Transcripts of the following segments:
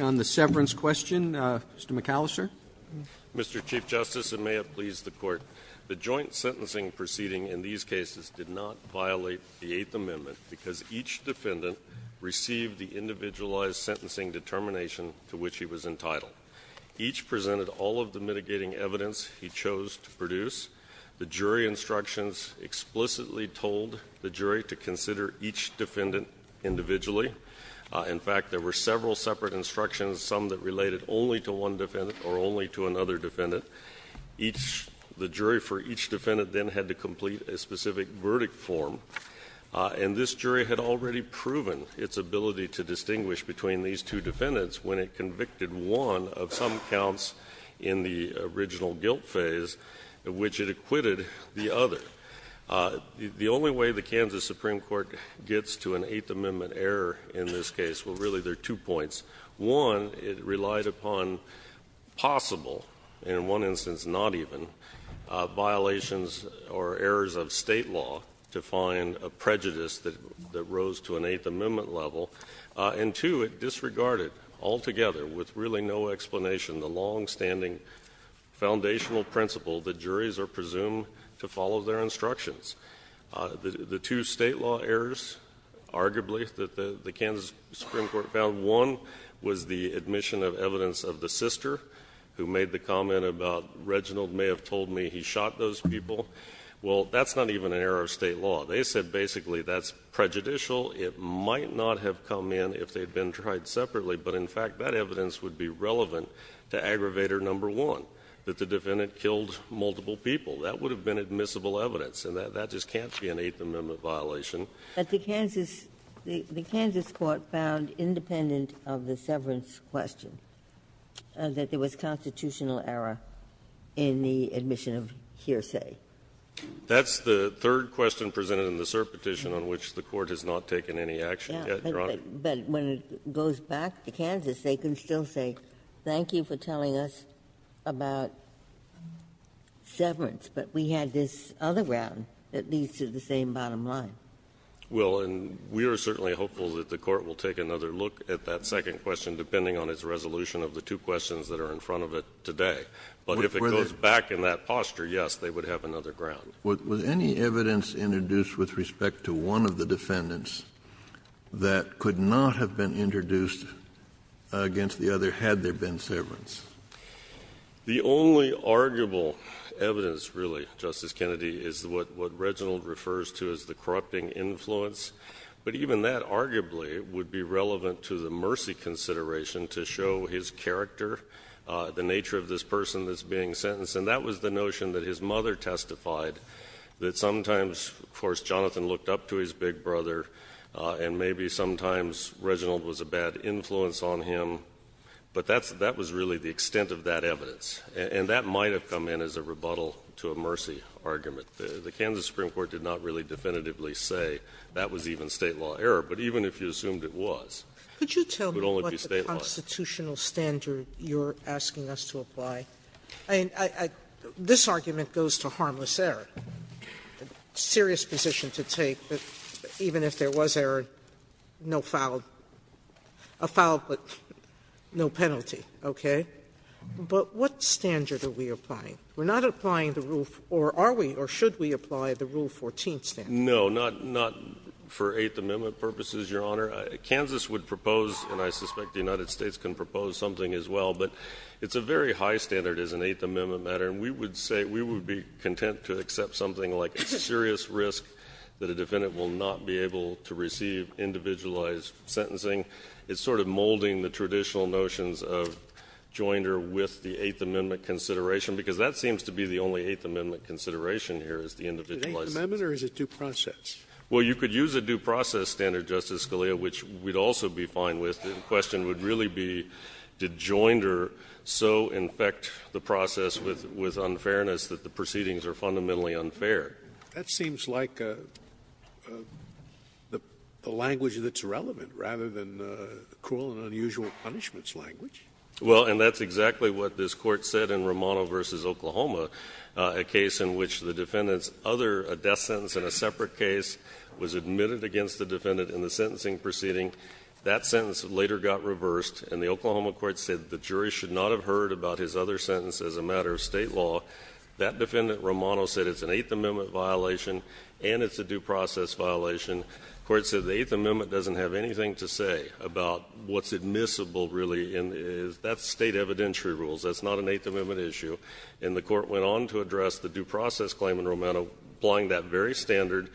On the severance question, Mr. McAllister. Mr. Chief Justice, and may it please the Court, the joint sentencing proceeding in these cases did not violate the Eighth Amendment because each defendant received the individualized sentencing determination to which he was entitled. Each presented all of the mitigating evidence he chose to produce. The jury instructions explicitly told the jury to consider each defendant individually. In fact, there were several separate instructions, some that related only to one defendant or only to another defendant. The jury for each defendant then had to complete a specific verdict form. And this jury had already proven its ability to distinguish between these two defendants when it convicted one of some counts in the original guilt phase, which it acquitted the other. The only way the Kansas Supreme Court gets to an Eighth Amendment error in this case, well, really, there are two points. One, it relied upon possible, and in one instance, not even, violations or errors of state law to find a prejudice that rose to an Eighth Amendment level. And two, it disregarded altogether with really no explanation the longstanding foundational principle that juries are presumed to follow their instructions. The two state law errors, arguably, that the Kansas Supreme Court found, one was the admission of evidence of the sister who made the comment about, Reginald may have told me he shot those people, well, that's not even an error of state law. They said basically that's prejudicial, it might not have come in if they'd been tried separately, but in fact, that evidence would be relevant to aggravator number one, that the defendant killed multiple people. That would have been admissible evidence, and that just can't be an Eighth Amendment violation. But the Kansas Court found, independent of the severance question, that there was constitutional error in the admission of hearsay. That's the third question presented in the cert petition on which the Court has not taken any action yet, Your Honor. Ginsburg. But when it goes back to Kansas, they can still say, thank you for telling us about severance, but we had this other round that leads to the same bottom line. Well, and we are certainly hopeful that the Court will take another look at that second question, depending on its resolution of the two questions that are in front of it today. But if it goes back in that posture, yes, they would have another ground. Was any evidence introduced with respect to one of the defendants that could not have been introduced against the other, had there been severance? The only arguable evidence, really, Justice Kennedy, is what Reginald refers to as the corrupting influence. But even that, arguably, would be relevant to the mercy consideration to show his character, the nature of this person that's being sentenced. And that was the notion that his mother testified, that sometimes, of course, Jonathan looked up to his big brother, and maybe sometimes Reginald was a bad influence on him. But that was really the extent of that evidence, and that might have come in as a rebuttal to a mercy argument. The Kansas Supreme Court did not really definitively say that was even state law error, but even if you assumed it was, it would only be state law. Sotomayor, what constitutional standard you're asking us to apply? I mean, this argument goes to harmless error, a serious position to take that even if there was error, no foul, a foul, but no penalty, okay? But what standard are we applying? We're not applying the rule, or are we, or should we apply the Rule 14 standard? No, not for Eighth Amendment purposes, Your Honor. Kansas would propose, and I suspect the United States can propose something as well, but it's a very high standard as an Eighth Amendment matter, and we would say, we would be content to accept something like a serious risk that a defendant will not be able to receive individualized sentencing. It's sort of molding the traditional notions of joinder with the Eighth Amendment consideration, because that seems to be the only Eighth Amendment consideration here is the individualized sentence. The Eighth Amendment, or is it due process? Well, you could use a due process standard, Justice Scalia, which we'd also be fine with, the question would really be, did joinder so infect the process with unfairness that the proceedings are fundamentally unfair? That seems like a language that's relevant, rather than cruel and unusual punishments language. Well, and that's exactly what this Court said in Romano v. Oklahoma, a case in which the defendant's other death sentence in a separate case was admitted against the defendant in the sentencing proceeding. That sentence later got reversed, and the Oklahoma Court said the jury should not have heard about his other sentence as a matter of state law. That defendant, Romano, said it's an Eighth Amendment violation, and it's a due process violation. The Court said the Eighth Amendment doesn't have anything to say about what's admissible, really, and that's state evidentiary rules. That's not an Eighth Amendment issue, and the Court went on to address the due process claim in Romano, applying that very standard.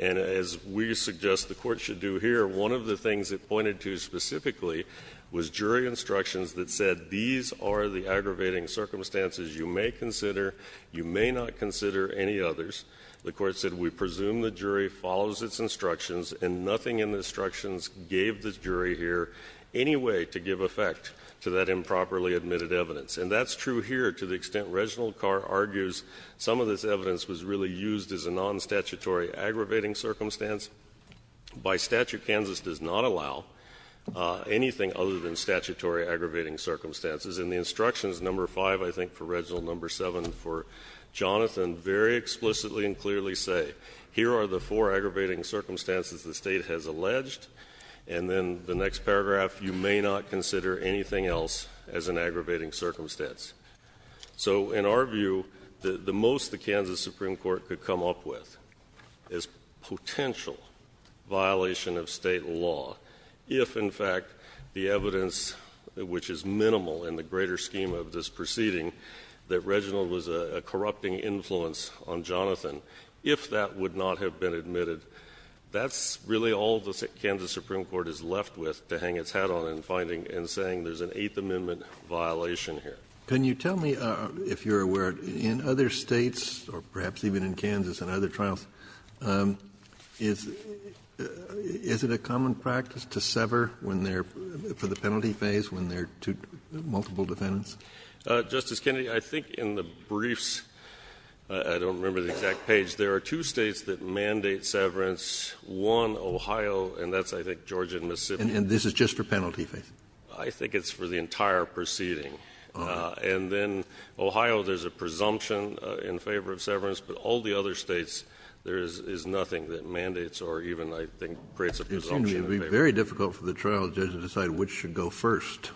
And as we suggest the Court should do here, one of the things it pointed to specifically was jury instructions that said these are the aggravating circumstances you may consider, you may not consider any others. The Court said we presume the jury follows its instructions, and nothing in the instructions gave the jury here any way to give effect to that improperly admitted evidence. And that's true here to the extent Reginald Carr argues some of this evidence was really used as a non-statutory aggravating circumstance. By statute, Kansas does not allow anything other than statutory aggravating circumstances. In the instructions, number 5, I think, for Reginald, number 7, for Jonathan, very explicitly and clearly say here are the four aggravating circumstances the State has alleged, and then the next paragraph, you may not consider anything else as an aggravating circumstance. So in our view, the most the Kansas Supreme Court could come up with is potential violation of State law if, in fact, the evidence, which is minimal in the greater scheme of this proceeding, that Reginald was a corrupting influence on Jonathan, if that would not have been admitted. That's really all the Kansas Supreme Court is left with to hang its hat on in finding and saying there's an Eighth Amendment violation here. Kennedy. Can you tell me, if you are aware, in other States, or perhaps even in Kansas and other trials, is it a common practice to sever when there, for the penalty phase, when there are two, multiple defendants? Justice Kennedy, I think in the briefs, I don't remember the exact page, there are two States that mandate severance, one, Ohio, and that's, I think, Georgia and Mississippi. And this is just for penalty phase? I think it's for the entire proceeding. And then Ohio, there's a presumption in favor of severance, but all the other States, there is nothing that mandates or even, I think, creates a presumption. It would be very difficult for the trial judge to decide which should go first.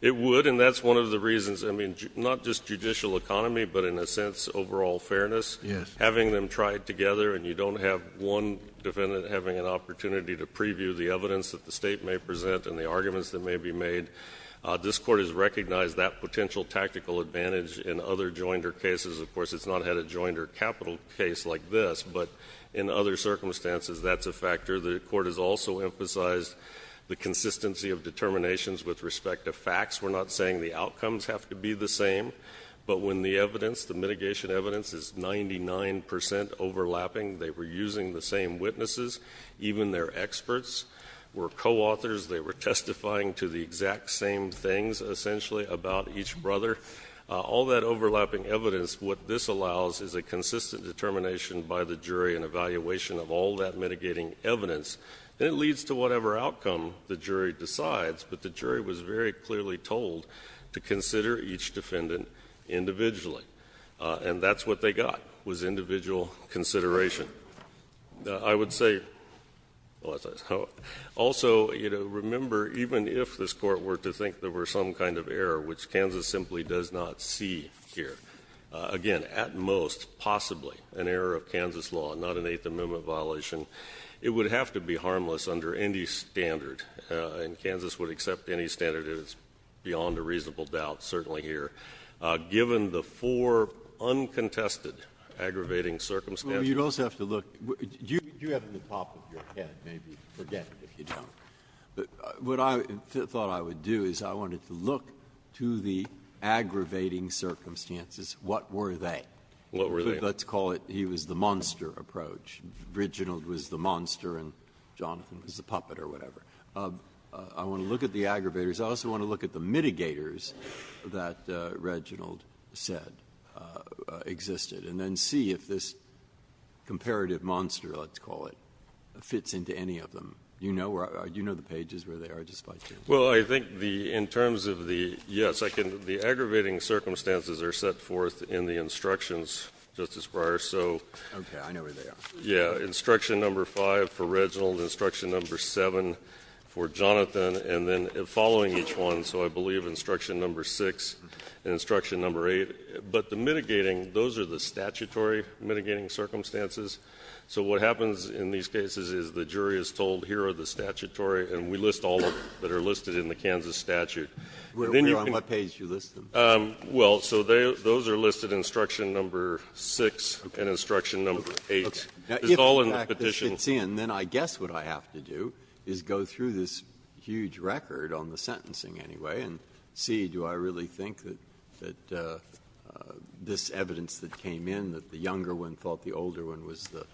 It would, and that's one of the reasons. I mean, not just judicial economy, but in a sense, overall fairness. Yes. Having them tried together and you don't have one defendant having an opportunity to preview the evidence that the State may present and the arguments that may be made, this Court has recognized that potential tactical advantage in other jointer cases. Of course, it's not had a jointer capital case like this, but in other circumstances, that's a factor. The Court has also emphasized the consistency of determinations with respect to facts. We're not saying the outcomes have to be the same, but when the evidence, the mitigation evidence, is 99 percent overlapping, they were using the same witnesses, even their experts were co-authors. They were testifying to the exact same things, essentially, about each brother. All that overlapping evidence, what this allows is a consistent determination by the jury in evaluation of all that mitigating evidence. And it leads to whatever outcome the jury decides, but the jury was very clearly told to consider each defendant individually, and that's what they got, was individual consideration. I would say, also, you know, remember, even if this Court were to think there were some kind of error, which Kansas simply does not see here, again, at most, possibly, an error of Kansas law, not an Eighth Amendment violation, it would have to be harmless under any standard, and Kansas would accept any standard that is beyond a reasonable doubt, certainly here. Given the four uncontested aggravating circumstances. Breyer, you'd also have to look at the top of your head, maybe, forget it if you don't. What I thought I would do is I wanted to look to the aggravating circumstances. What were they? What were they? Let's call it he was the monster approach. Reginald was the monster and Jonathan was the puppet or whatever. I want to look at the aggravators. I also want to look at the mitigators that Reginald said existed, and then see if this comparative monster, let's call it, fits into any of them. You know where the pages, where they are, just by chance? Well, I think the — in terms of the — yes, I can. The aggravating circumstances are set forth in the instructions, Justice Breyer. So — Okay. I know where they are. Yeah, instruction number five for Reginald, instruction number seven for Jonathan, and then following each one, so I believe instruction number six and instruction number eight. But the mitigating, those are the statutory mitigating circumstances. So what happens in these cases is the jury is told, here are the statutory, and we list all of them that are listed in the Kansas statute. Where on what page do you list them? Well, so those are listed in instruction number six and instruction number eight. It's all in the Petition. If it fits in, then I guess what I have to do is go through this huge record on the sentencing anyway and see, do I really think that this evidence that came in, that the younger one thought the older one was the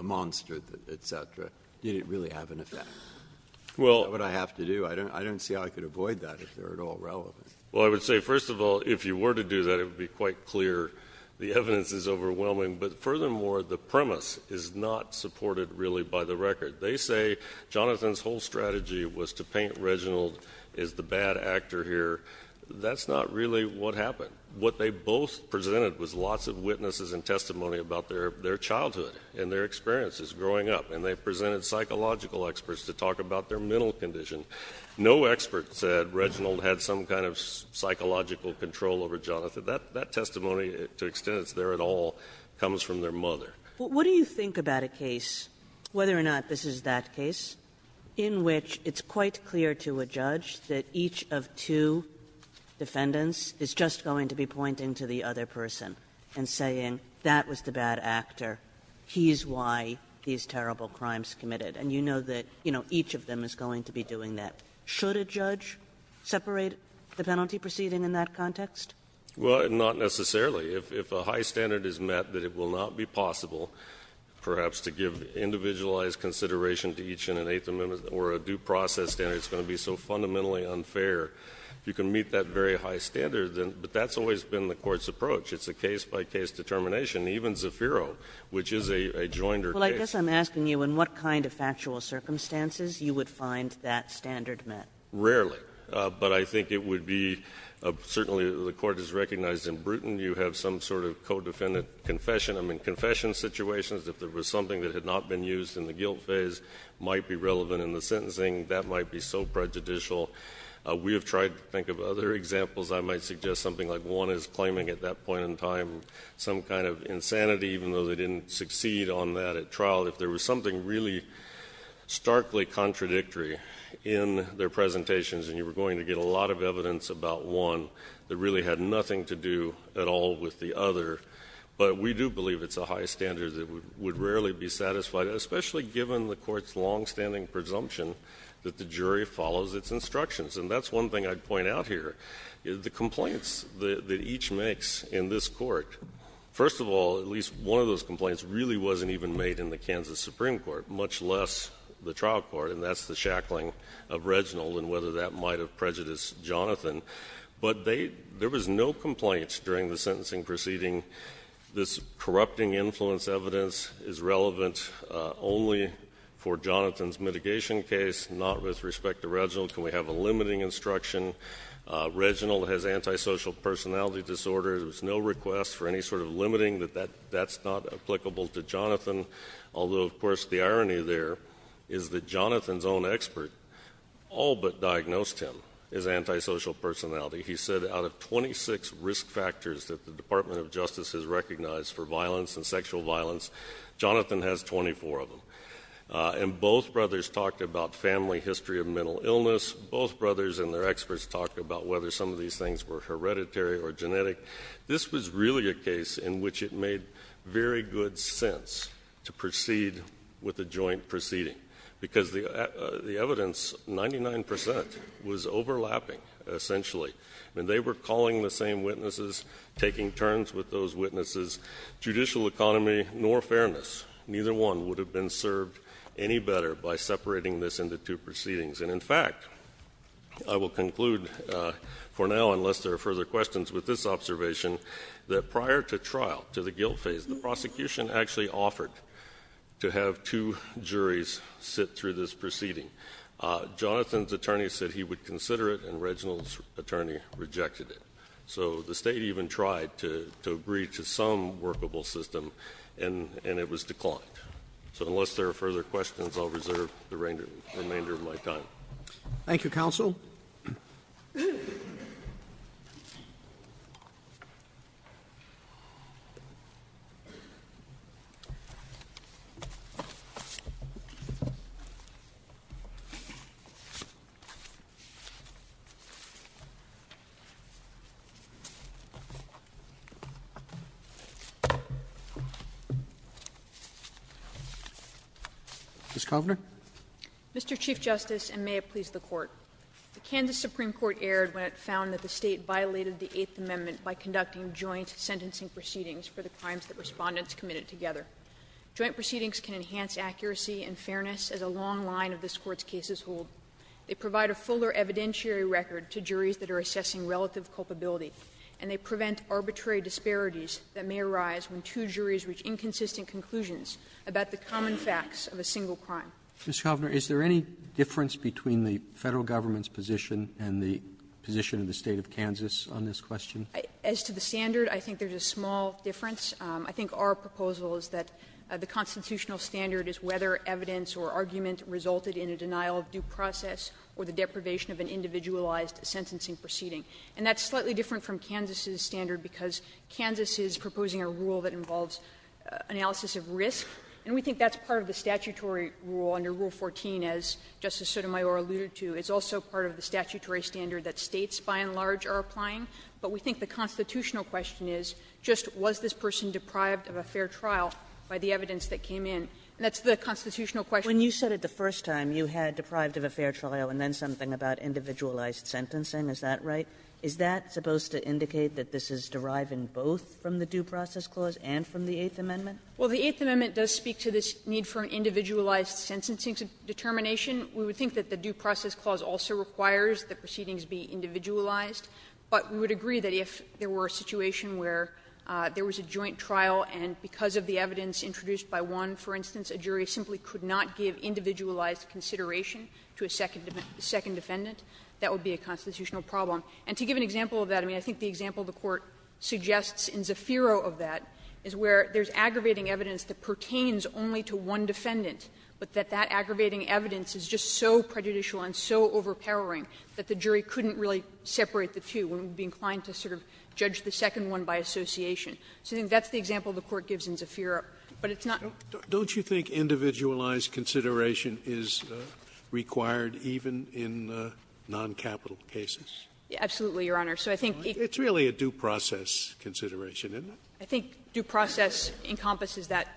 monster, et cetera, did it really have an effect? Well — Is that what I have to do? I don't see how I could avoid that if they're at all relevant. Well, I would say, first of all, if you were to do that, it would be quite clear. The evidence is overwhelming, but furthermore, the premise is not supported really by the record. They say Jonathan's whole strategy was to paint Reginald as the bad actor here. That's not really what happened. What they both presented was lots of witnesses and testimony about their childhood and their experiences growing up. And they presented psychological experts to talk about their mental condition. No expert said Reginald had some kind of psychological control over Jonathan. That testimony, to the extent it's there at all, comes from their mother. But what do you think about a case, whether or not this is that case, in which it's quite clear to a judge that each of two defendants is just going to be pointing to the other person and saying, that was the bad actor, he's why these terrible crimes committed. And you know that each of them is going to be doing that. Should a judge separate the penalty proceeding in that context? Well, not necessarily. If a high standard is met, that it will not be possible, perhaps, to give individualized consideration to each in an eighth amendment or a due process standard. It's going to be so fundamentally unfair. You can meet that very high standard, but that's always been the court's approach. It's a case by case determination, even Zafiro, which is a joinder case. Well, I guess I'm asking you, in what kind of factual circumstances you would find that standard met? Rarely, but I think it would be, certainly the court has recognized in Bruton, you have some sort of co-defendant confession. I mean, confession situations, if there was something that had not been used in the guilt phase, might be relevant in the sentencing. That might be so prejudicial. We have tried to think of other examples. I might suggest something like one is claiming, at that point in time, some kind of insanity, even though they didn't succeed on that at trial. If there was something really starkly contradictory in their presentations, and you were going to get a lot of evidence about one that really had nothing to do at all with the other. But we do believe it's a high standard that would rarely be satisfied, especially given the court's longstanding presumption that the jury follows its instructions. And that's one thing I'd point out here. The complaints that each makes in this court, first of all, at least one of those complaints really wasn't even made in the Kansas Supreme Court, much less the trial court. And that's the shackling of Reginald and whether that might have prejudiced Jonathan. But there was no complaints during the sentencing proceeding. This corrupting influence evidence is relevant only for limiting instruction, Reginald has antisocial personality disorder. There was no request for any sort of limiting that that's not applicable to Jonathan. Although, of course, the irony there is that Jonathan's own expert all but diagnosed him as antisocial personality. He said out of 26 risk factors that the Department of Justice has recognized for violence and sexual violence, Jonathan has 24 of them. And both brothers talked about family history of mental illness. Both brothers and their experts talked about whether some of these things were hereditary or genetic. This was really a case in which it made very good sense to proceed with a joint proceeding. Because the evidence, 99%, was overlapping, essentially. And they were calling the same witnesses, taking turns with those witnesses. Judicial economy nor fairness, neither one would have been served any better by separating this into two proceedings. And in fact, I will conclude for now, unless there are further questions, with this observation that prior to trial, to the guilt phase, the prosecution actually offered to have two juries sit through this proceeding. Jonathan's attorney said he would consider it, and Reginald's attorney rejected it. So the State even tried to agree to some workable system, and it was declined. So unless there are further questions, I'll reserve the remainder of my time. Ms. Kovner? Mr. Chief Justice, and may it please the Court. The Kansas Supreme Court erred when it found that the State violated the Eighth Amendment by conducting joint sentencing proceedings for the crimes that respondents committed together. Joint proceedings can enhance accuracy and fairness as a long line of this Court's cases hold. They provide a fuller evidentiary record to juries that are assessing relative culpability. And they prevent arbitrary disparities that may arise when two juries reach inconsistent conclusions about the common facts of a single crime. Mr. Kovner, is there any difference between the Federal Government's position and the position of the State of Kansas on this question? As to the standard, I think there's a small difference. I think our proposal is that the constitutional standard is whether evidence or argument resulted in a denial of due process or the deprivation of an individualized sentencing proceeding. And that's slightly different from Kansas's standard, because Kansas is proposing a rule that involves analysis of risk, and we think that's part of the statutory rule under Rule 14, as Justice Sotomayor alluded to. It's also part of the statutory standard that States, by and large, are applying. But we think the constitutional question is, just was this person deprived of a fair trial by the evidence that came in? And that's the constitutional question. Kagan, when you said it the first time, you had deprived of a fair trial and then said something about individualized sentencing. Is that right? Is that supposed to indicate that this is deriving both from the due process clause and from the Eighth Amendment? Well, the Eighth Amendment does speak to this need for an individualized sentencing determination. We would think that the due process clause also requires the proceedings be individualized, but we would agree that if there were a situation where there was a joint trial and because of the evidence introduced by one, for instance, a jury simply could not give a second defendant, that would be a constitutional problem. And to give an example of that, I mean, I think the example the Court suggests in Zafiro of that is where there's aggravating evidence that pertains only to one defendant, but that that aggravating evidence is just so prejudicial and so overpowering that the jury couldn't really separate the two and would be inclined to sort of judge the second one by association. So I think that's the example the Court gives in Zafiro. But it's not the case. Sotomayor's consideration is required even in non-capital cases? Absolutely, Your Honor. So I think it's really a due process consideration, isn't it? I think due process encompasses that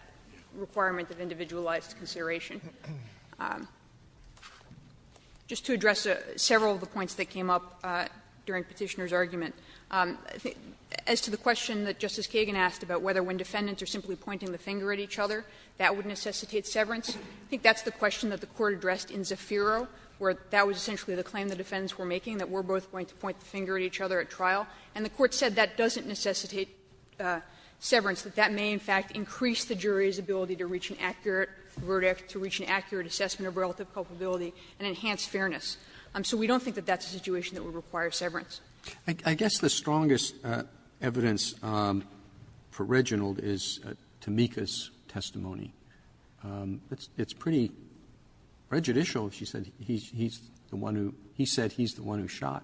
requirement of individualized consideration. Just to address several of the points that came up during Petitioner's argument, as to the question that Justice Kagan asked about whether when defendants are simply pointing the finger at each other, that would necessitate severance, I think that's the question that the Court addressed in Zafiro, where that was essentially the claim the defendants were making, that we're both going to point the finger at each other at trial. And the Court said that doesn't necessitate severance, that that may, in fact, increase the jury's ability to reach an accurate verdict, to reach an accurate assessment of relative culpability and enhance fairness. So we don't think that that's a situation that would require severance. Roberts. Roberts. I guess the strongest evidence for Reginald is Tameka's testimony. It's pretty prejudicial. She said he's the one who he said he's the one who shot.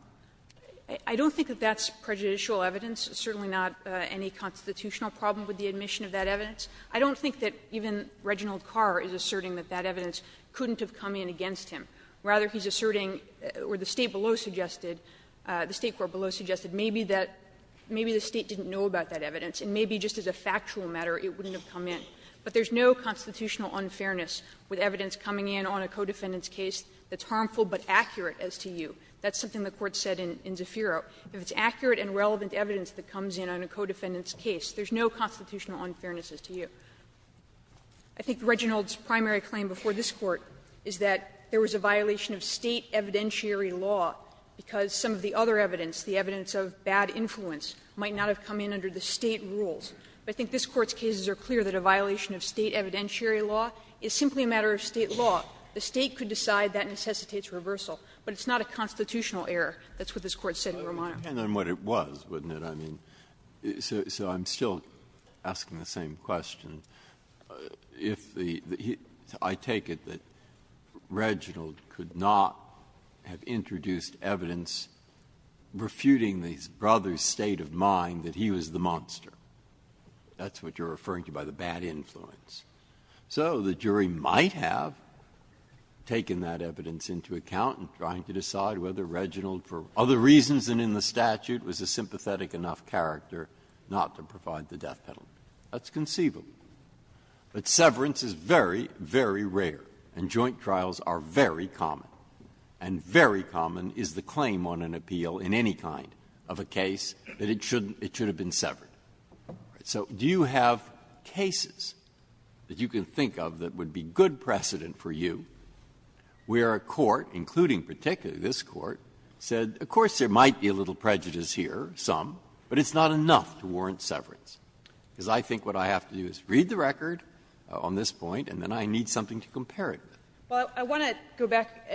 I don't think that that's prejudicial evidence. Certainly not any constitutional problem with the admission of that evidence. I don't think that even Reginald Carr is asserting that that evidence couldn't have come in against him. Rather, he's asserting, or the State below suggested, the State court below suggested, maybe that maybe the State didn't know about that evidence, and maybe just as a factual matter it wouldn't have come in. But there's no constitutional unfairness with evidence coming in on a co-defendant's case that's harmful but accurate as to you. That's something the Court said in Zafiro. If it's accurate and relevant evidence that comes in on a co-defendant's case, there's no constitutional unfairness as to you. I think Reginald's primary claim before this Court is that there was a violation of State evidentiary law because some of the other evidence, the evidence of bad influence, might not have come in under the State rules. But I think this Court's cases are clear that a violation of State evidentiary law is simply a matter of State law. The State could decide that necessitates reversal, but it's not a constitutional error. That's what this Court said in Romano. Breyer. Breyer. It depends on what it was, wouldn't it? I mean, so so I'm still asking the same question. If the, I take it that Reginald could not have introduced evidence refuting the brother's state of mind that he was the monster. That's what you're referring to by the bad influence. So the jury might have taken that evidence into account in trying to decide whether Reginald, for other reasons than in the statute, was a sympathetic enough character not to provide the death penalty. That's conceivable. But severance is very, very rare, and joint trials are very common. And very common is the claim on an appeal in any kind of a case that it should have been severed. So do you have cases that you can think of that would be good precedent for you where a court, including particularly this Court, said, of course, there might be a little prejudice here, some, but it's not enough to warrant severance? Because I think what I have to do is read the record on this point, and then I need something to compare it with. Well, I want to go back.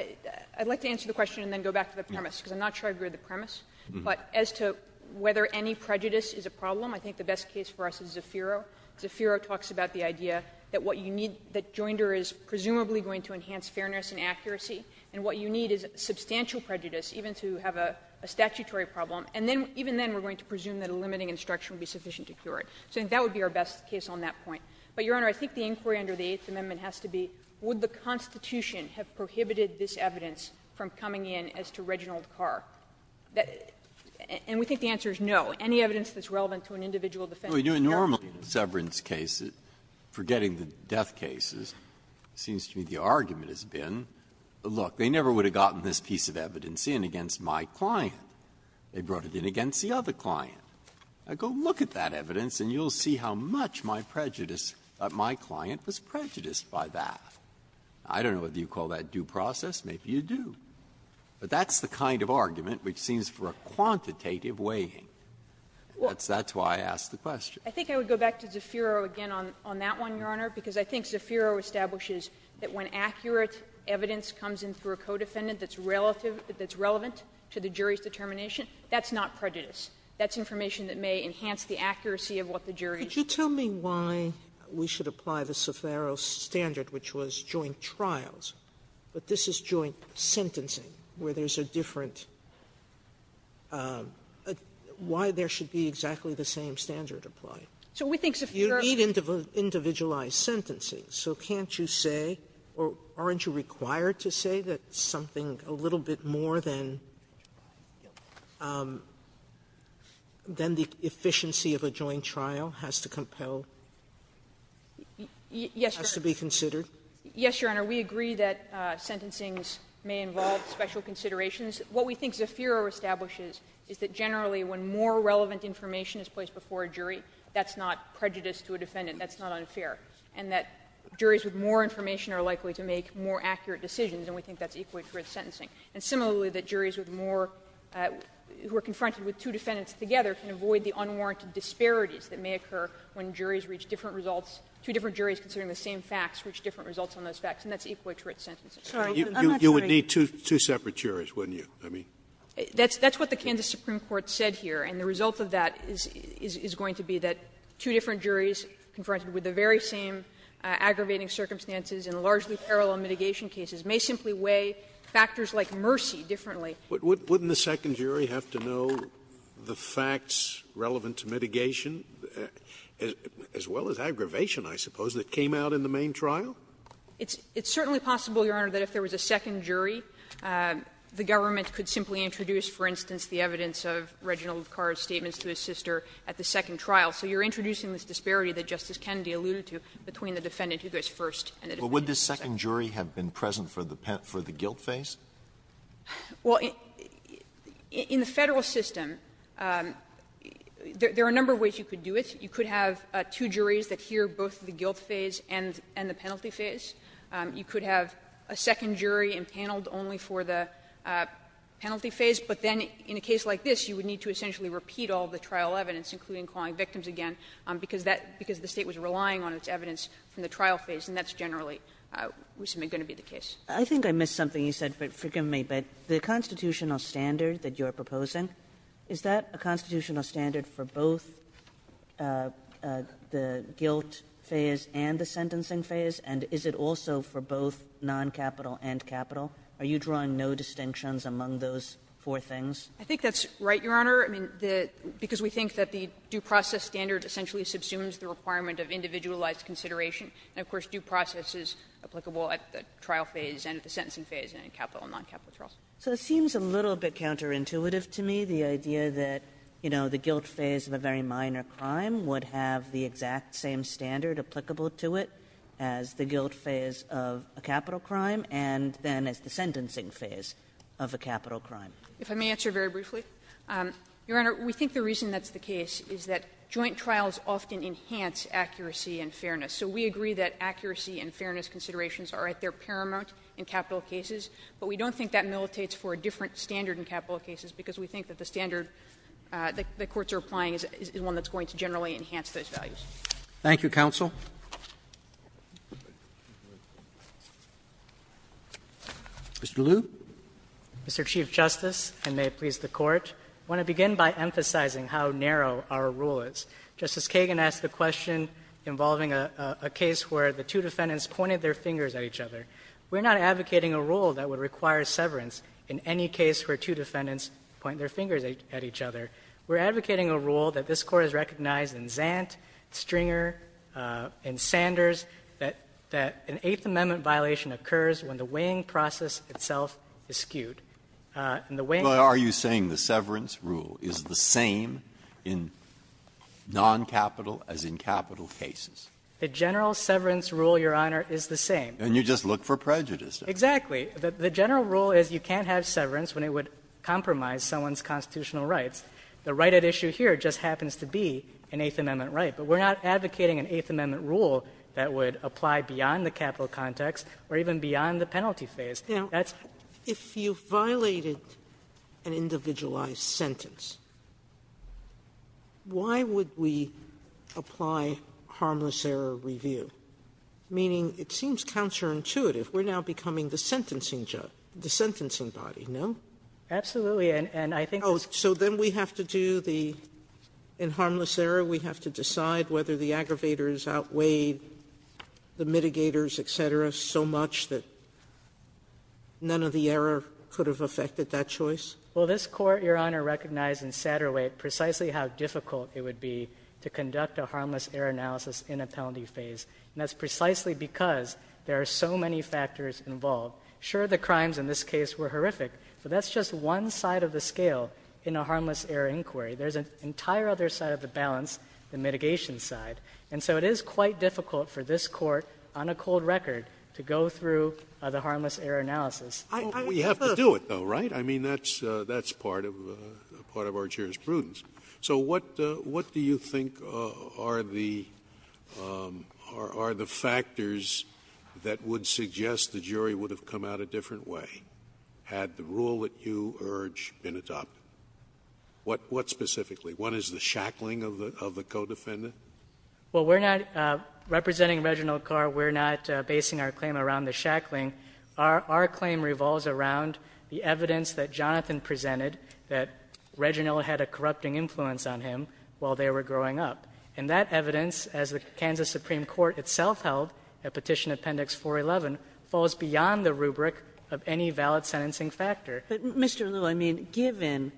I'd like to answer the question and then go back to the premise, because I'm not sure I agree with the premise. But as to whether any prejudice is a problem, I think the best case for us is Zafiro. Zafiro talks about the idea that what you need, that Joinder is presumably going to enhance fairness and accuracy, and what you need is substantial prejudice, even to have a statutory problem, and then, even then, we're going to presume that a limiting instruction would be sufficient to cure it. So I think that would be our best case on that point. But, Your Honor, I think the inquiry under the Eighth Amendment has to be, would the Constitution have prohibited this evidence from coming in as to Reginald Carr? And we think the answer is no. Breyer, I don't know if you call that due process, maybe you do, but that's the kind of argument which seems for a quantitative weighing, and that's why I asked the question. I think I would go back to Zafiro again on that one, Your Honor, because I think Zafiro establishes that when accurate evidence comes in through a codefendant that's relative, that's relevant to the jury's determination, that's not prejudice. That's information that may enhance the accuracy of what the jury is. Sotomayor, could you tell me why we should apply the Zafiro standard, which was joint trials, but this is joint sentencing, where there's a different why there should be exactly the same standard applied? You need individualized sentencing, so can't you say, or aren't you required to say that something a little bit more than the efficiency of a joint trial has to compel, has to be considered? Yes, Your Honor. We agree that sentencing may involve special considerations. What we think Zafiro establishes is that generally when more relevant information is placed before a jury, that's not prejudice to a defendant, that's not unfair, and that juries with more information are likely to make more accurate decisions, and we think that's equally true with sentencing. And similarly, that juries with more who are confronted with two defendants together can avoid the unwarranted disparities that may occur when juries reach different results, two different juries considering the same facts reach different results on those facts, and that's equally true with sentencing. You would need two separate juries, wouldn't you? I mean. That's what the Kansas Supreme Court said here, and the result of that is going to be that two different juries confronted with the very same aggravating circumstances in largely parallel mitigation cases may simply weigh factors like mercy differently. Wouldn't the second jury have to know the facts relevant to mitigation, as well as aggravation, I suppose, that came out in the main trial? It's certainly possible, Your Honor, that if there was a second jury, the government could simply introduce, for instance, the evidence of Reginald Carr's statements to his sister at the second trial. So you're introducing this disparity that Justice Kennedy alluded to between the defendant who goes first and the defendant who goes second. But would the second jury have been present for the guilt phase? Well, in the Federal system, there are a number of ways you could do it. You could have two juries that hear both the guilt phase and the penalty phase. You could have a second jury impaneled only for the penalty phase. But then in a case like this, you would need to essentially repeat all the trial evidence, including calling victims again, because that the State was relying on its evidence from the trial phase, and that's generally what's going to be the case. Kagan. Kagan. I think I missed something you said, but forgive me. But the constitutional standard that you're proposing, is that a constitutional standard for both the guilt phase and the sentencing phase, and is it also for both non-capital and capital? Are you drawing no distinctions among those four things? I think that's right, Your Honor, because we think that the due process standard essentially subsumes the requirement of individualized consideration, and, of course, due process is applicable at the trial phase and at the sentencing phase and in capital and non-capital trials. So it seems a little bit counterintuitive to me, the idea that, you know, the guilt phase of a very minor crime would have the exact same standard applicable to it as the guilt phase of a capital crime and then as the sentencing phase of a capital crime. If I may answer very briefly, Your Honor, we think the reason that's the case is that joint trials often enhance accuracy and fairness. So we agree that accuracy and fairness considerations are at their paramount in capital cases, but we don't think that militates for a different standard in capital cases, because we think that the standard the courts are applying is one that's going to generally enhance those values. Roberts. Thank you, counsel. Mr. Liu. Mr. Chief Justice, and may it please the Court, I want to begin by emphasizing how narrow our rule is. Justice Kagan asked a question involving a case where the two defendants pointed their fingers at each other. We're not advocating a rule that would require severance in any case where two defendants point their fingers at each other. We're advocating a rule that this Court has recognized in Zant, Stringer, and Sanders that an Eighth Amendment violation occurs when the weighing process itself is skewed. And the weighing process is skewed. Breyer. Are you saying the severance rule is the same in noncapital as in capital cases? The general severance rule, Your Honor, is the same. And you just look for prejudice. Exactly. The general rule is you can't have severance when it would compromise someone's constitutional rights. The right at issue here just happens to be an Eighth Amendment right. But we're not advocating an Eighth Amendment rule that would apply beyond the capital context or even beyond the penalty phase. Now, if you violated an individualized sentence, why would we apply harmless error review, meaning it seems counterintuitive. We're now becoming the sentencing judge, the sentencing body, no? Absolutely. And I think it's the same. So then we have to do the – in harmless error, we have to decide whether the aggravators outweigh the mitigators, et cetera, so much that none of the error could have affected that choice? Well, this Court, Your Honor, recognized in Satterwhite precisely how difficult it would be to conduct a harmless error analysis in a penalty phase. And that's precisely because there are so many factors involved. Sure, the crimes in this case were horrific, but that's just one side of the scale in a harmless error inquiry. There's an entire other side of the balance, the mitigation side. And so it is quite difficult for this Court, on a cold record, to go through the harmless error analysis. Well, we have to do it, though, right? I mean, that's part of our jurisprudence. So what do you think are the factors that would suggest the jury would have come out a different way had the rule that you urge been adopted? What specifically? One is the shackling of the co-defendant? Well, we're not – representing Reginald Carr, we're not basing our claim around the shackling. Our claim revolves around the evidence that Jonathan presented, that Reginald had a corrupting influence on him while they were growing up. And that evidence, as the Kansas Supreme Court itself held at Petition Appendix 411, falls beyond the rubric of any valid sentencing factor. But, Mr. Liu, I mean, given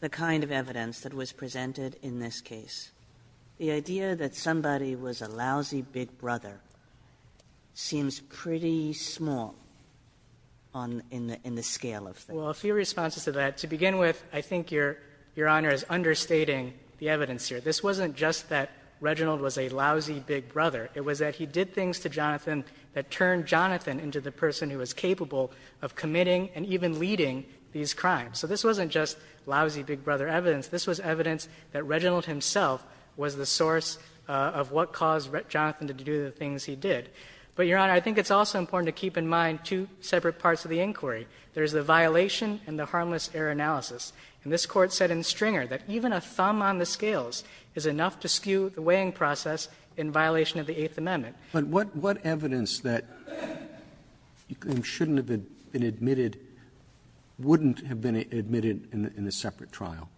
the kind of evidence that was presented in this case, the idea that somebody was a lousy big brother seems pretty small on – in the scale of things. Well, a few responses to that. To begin with, I think Your Honor is understating the evidence here. This wasn't just that Reginald was a lousy big brother. It was that he did things to Jonathan that turned Jonathan into the person who was capable of committing and even leading these crimes. So this wasn't just lousy big brother evidence. This was evidence that Reginald himself was the source of what caused Jonathan to do the things he did. But, Your Honor, I think it's also important to keep in mind two separate parts of the inquiry. There is the violation and the harmless error analysis. And this Court said in Stringer that even a thumb on the scales is enough to skew the weighing process in violation of the Eighth Amendment. But what evidence that shouldn't have been admitted wouldn't have been admitted in a separate trial?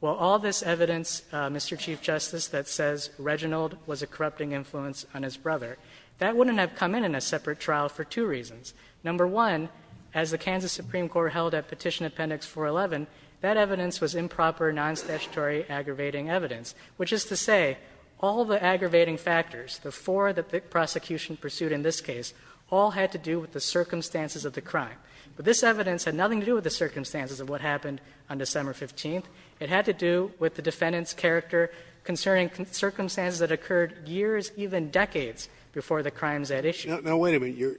Well, all this evidence, Mr. Chief Justice, that says Reginald was a corrupting influence on his brother, that wouldn't have come in in a separate trial for two reasons. Number one, as the Kansas Supreme Court held at Petition Appendix 411, that evidence was improper, non-statutory, aggravating evidence, which is to say all the aggravating factors, the four that the prosecution pursued in this case, all had to do with the circumstances of the crime. But this evidence had nothing to do with the circumstances of what happened on December 15th. It had to do with the defendant's character concerning circumstances that occurred years, even decades, before the crimes at issue. Now, wait a minute.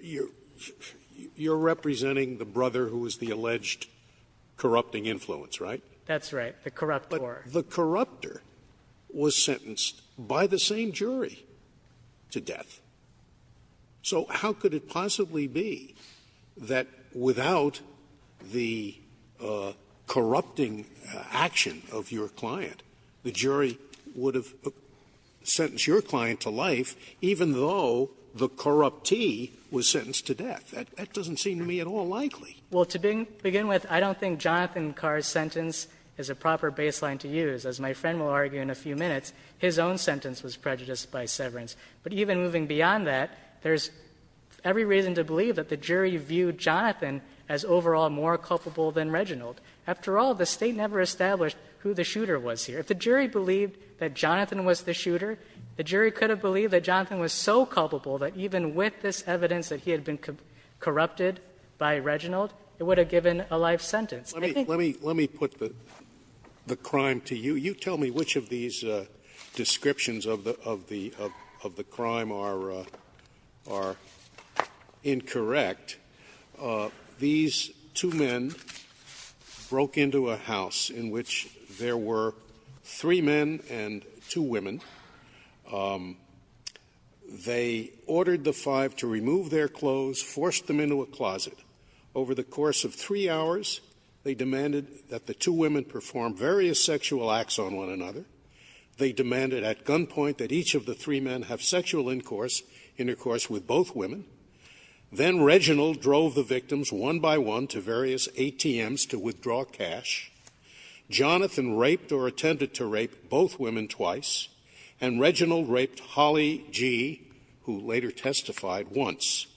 You're representing the brother who was the alleged corrupting influence, right? That's right. The corruptor. But the corruptor was sentenced by the same jury to death. So how could it possibly be that without the corrupting action of your client, the jury would have sentenced your client to life, even though the corruptor was sentenced to death? That doesn't seem to me at all likely. Well, to begin with, I don't think Jonathan Carr's sentence is a proper baseline to use. As my friend will argue in a few minutes, his own sentence was prejudiced by severance. But even moving beyond that, there's every reason to believe that the jury viewed Jonathan as overall more culpable than Reginald. After all, the State never established who the shooter was here. If the jury believed that Jonathan was the shooter, the jury could have believed that Jonathan was so culpable that even with this evidence that he had been corrupted by Reginald, it would have given a life sentence. I think the jury would have believed that. Scalia, let me put the crime to you. You tell me which of these descriptions of the crime are incorrect. These two men broke into a house in which there were three men and two women. They ordered the five to remove their clothes, forced them into a closet. Over the course of three hours, they demanded that the two women perform various sexual acts on one another. They demanded at gunpoint that each of the three men have sexual intercourse with both women. Then Reginald drove the victims one by one to various ATMs to withdraw cash. Jonathan raped or attempted to rape both women twice. And Reginald raped Holly G., who later testified, once.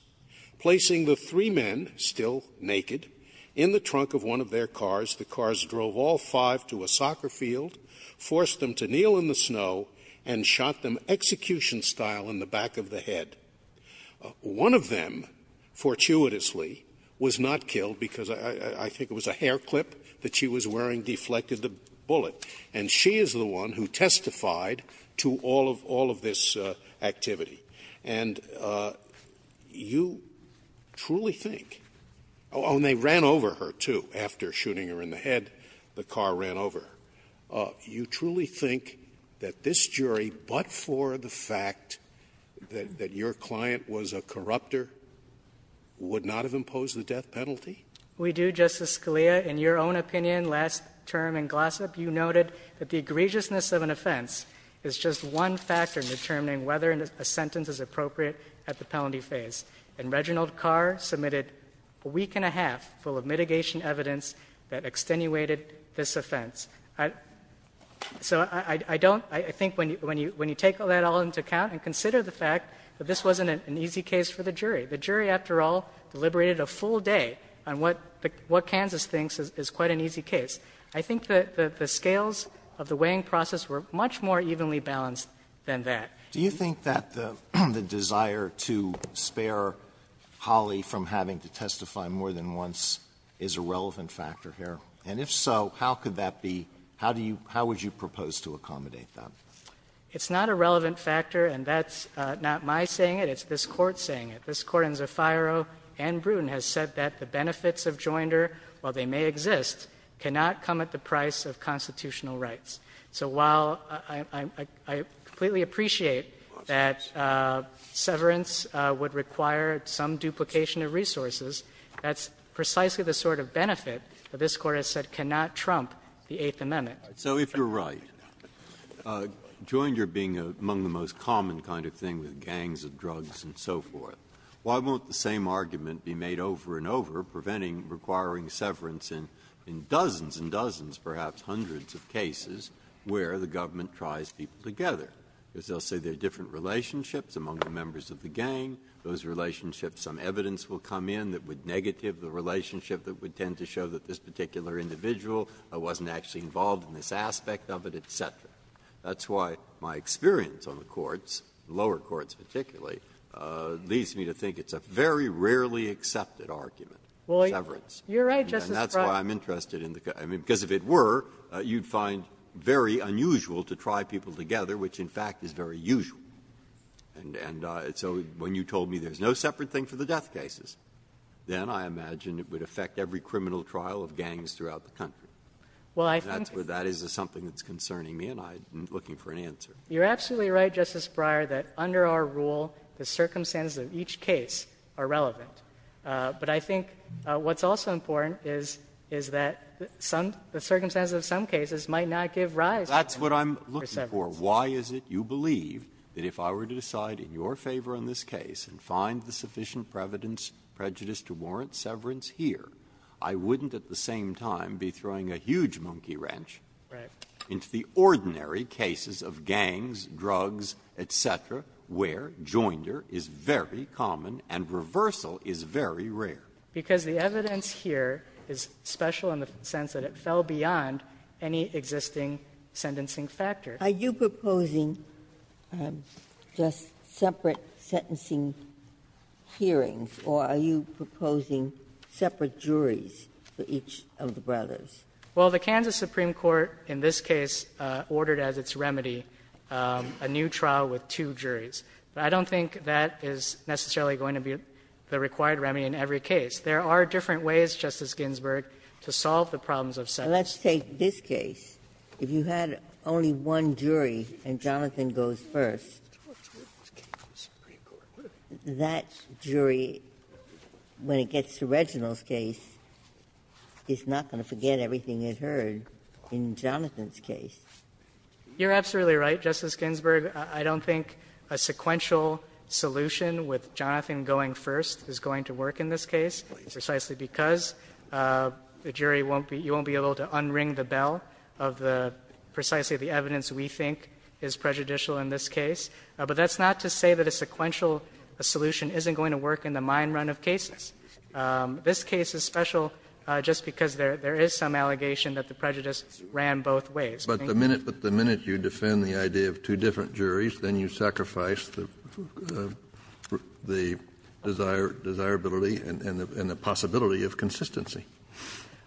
Placing the three men, still naked, in the trunk of one of their cars, the cars drove all five to a soccer field, forced them to kneel in the snow, and shot them execution style in the back of the head. One of them, fortuitously, was not killed because I think it was a hair clip that she was wearing deflected the bullet. And she is the one who testified to all of this activity. And you truly think, oh, and they ran over her, too, after shooting her in the head. The car ran over her. You truly think that this jury, but for the fact that your client was a corrupter, would not have imposed the death penalty? We do, Justice Scalia. In your own opinion, last term in Glossop, you noted that the egregiousness of an offense is just one factor in determining whether a sentence is appropriate at the penalty phase. And Reginald Carr submitted a week and a half full of mitigation evidence that extenuated this offense. So I don't – I think when you take all that all into account and consider the fact that this wasn't an easy case for the jury. The jury, after all, deliberated a full day on what Kansas thinks is quite an easy case. I think that the scales of the weighing process were much more evenly balanced than that. Do you think that the desire to spare Holly from having to testify more than once is a relevant factor here? And if so, how could that be – how do you – how would you propose to accommodate that? It's not a relevant factor, and that's not my saying it. It's this Court saying it. This Court in Zofiaro and Bruton has said that the benefits of joinder, while they may exist, cannot come at the price of constitutional rights. So while I completely appreciate that severance would require some duplication of resources, that's precisely the sort of benefit that this Court has said cannot trump the Eighth Amendment. Breyer. So if you're right, joinder being among the most common kind of thing with gangs and drugs and so forth, why won't the same argument be made over and over, preventing requiring severance in dozens and dozens, perhaps hundreds of cases, where the government tries people together? Because they'll say there are different relationships among the members of the gang, those relationships some evidence will come in that would negative the relationship that would tend to show that this particular individual wasn't actually involved in this aspect of it, et cetera. That's why my experience on the courts, lower courts particularly, leads me to think it's a very rarely accepted argument, severance. And that's why I'm interested in the question. Because if it were, you'd find very unusual to try people together, which, in fact, is very usual. And so when you told me there's no separate thing for the death cases, then I imagine it would affect every criminal trial of gangs throughout the country. And that is something that's concerning me, and I'm looking for an answer. You're absolutely right, Justice Breyer, that under our rule, the circumstances of each case are relevant. But I think what's also important is that the circumstances of some cases might not give rise to severance. That's what I'm looking for. Why is it you believe that if I were to decide in your favor on this case and find the sufficient prejudice to warrant severance here, I wouldn't at the same time be throwing a huge monkey wrench into the ordinary cases of gangs, drugs, et cetera, where joinder is very common and reversal is very rare? Because the evidence here is special in the sense that it fell beyond any existing sentencing factor. Are you proposing just separate sentencing hearings, or are you proposing separate juries for each of the brothers? Well, the Kansas Supreme Court in this case ordered as its remedy a new trial with two juries. But I don't think that is necessarily going to be the required remedy in every case. There are different ways, Justice Ginsburg, to solve the problems of separation. Let's take this case. If you had only one jury and Jonathan goes first, that jury, when it gets to Reginald's case, is not going to forget everything it heard in Jonathan's case. You're absolutely right, Justice Ginsburg. I don't think a sequential solution with Jonathan going first is going to work in this case, precisely because the jury won't be able to unring the bell of the precisely the evidence we think is prejudicial in this case. But that's not to say that a sequential solution isn't going to work in the mine run of cases. This case is special just because there is some allegation that the prejudice ran both ways. Kennedy. But the minute you defend the idea of two different juries, then you sacrifice the desirability and the possibility of consistency.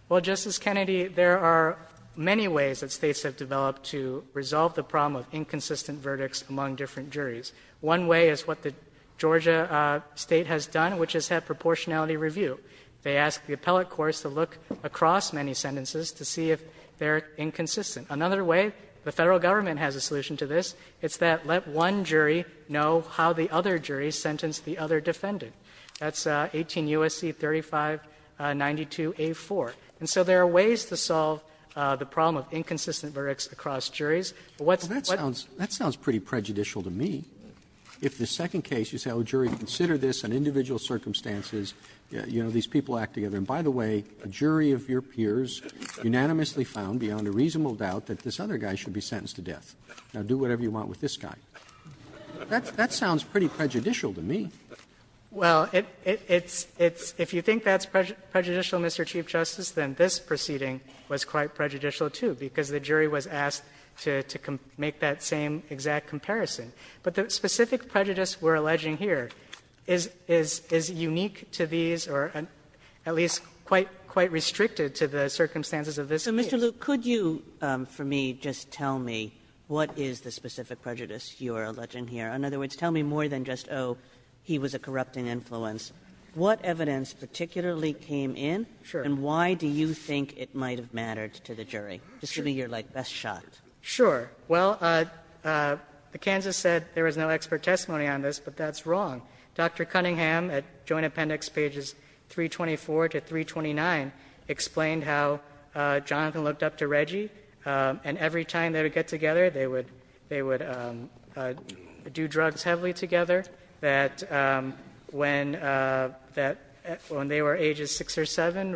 Well, Justice Kennedy, there are many ways that States have developed to resolve the problem of inconsistent verdicts among different juries. One way is what the Georgia State has done, which is have proportionality review. They ask the appellate courts to look across many sentences to see if they're inconsistent. Another way, the Federal Government has a solution to this, it's that let one jury know how the other jury sentenced the other defendant. That's 18 U.S.C. 3592a4. And so there are ways to solve the problem of inconsistent verdicts across juries. Roberts. Roberts. That sounds pretty prejudicial to me. If the second case you said, oh, jury, consider this on individual circumstances, you know, these people act together. And by the way, a jury of your peers unanimously found beyond a reasonable doubt that this other guy should be sentenced to death, now do whatever you want with this guy. That sounds pretty prejudicial to me. Well, it's – if you think that's prejudicial, Mr. Chief Justice, then this proceeding was quite prejudicial, too, because the jury was asked to make that same exact comparison. But the specific prejudice we're alleging here is unique to these or at least quite restricted to the circumstances of this case. Kagan. Kagan. So, Mr. Luke, could you, for me, just tell me what is the specific prejudice you're alleging here? In other words, tell me more than just, oh, he was a corrupting influence. What evidence particularly came in? Sure. And why do you think it might have mattered to the jury? Just give me your, like, best shot. Sure. Well, the Kansas said there was no expert testimony on this, but that's wrong. Dr. Cunningham at Joint Appendix pages 324 to 329 explained how Jonathan looked up to Reggie, and every time they would get together, they would do drugs heavily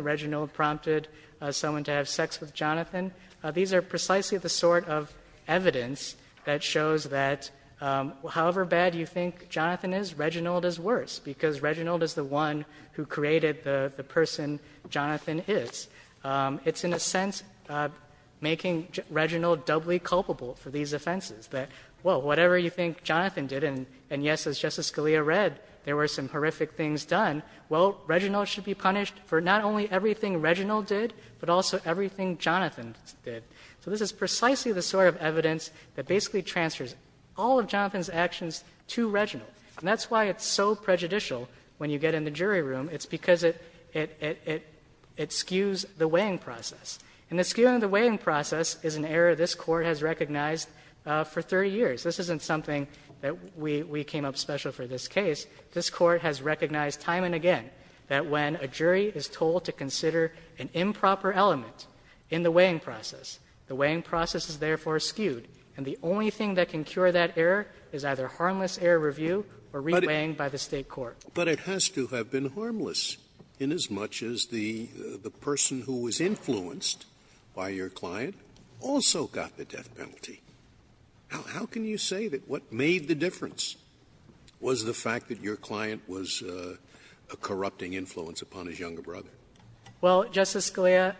Reginald prompted someone to have sex with Jonathan. These are precisely the sort of evidence that shows that however bad you think Jonathan is, Reginald is worse, because Reginald is the one who created the person Jonathan is. It's, in a sense, making Reginald doubly culpable for these offenses, that, well, whatever you think Jonathan did, and yes, as Justice Scalia read, there were some horrific things done. Well, Reginald should be punished for not only everything Reginald did, but also everything Jonathan did. So this is precisely the sort of evidence that basically transfers all of Jonathan's actions to Reginald. And that's why it's so prejudicial when you get in the jury room. It's because it skews the weighing process. And the skewing of the weighing process is an error this Court has recognized for 30 years. This isn't something that we came up special for this case. This Court has recognized time and again that when a jury is told to consider an improper element in the weighing process, the weighing process is therefore skewed. And the only thing that can cure that error is either harmless error review or re-weighing by the State court. Scalia. But it has to have been harmless inasmuch as the person who was influenced by your client also got the death penalty. How can you say that what made the difference was the fact that your client was a corrupting influence upon his younger brother? Well, Justice Scalia,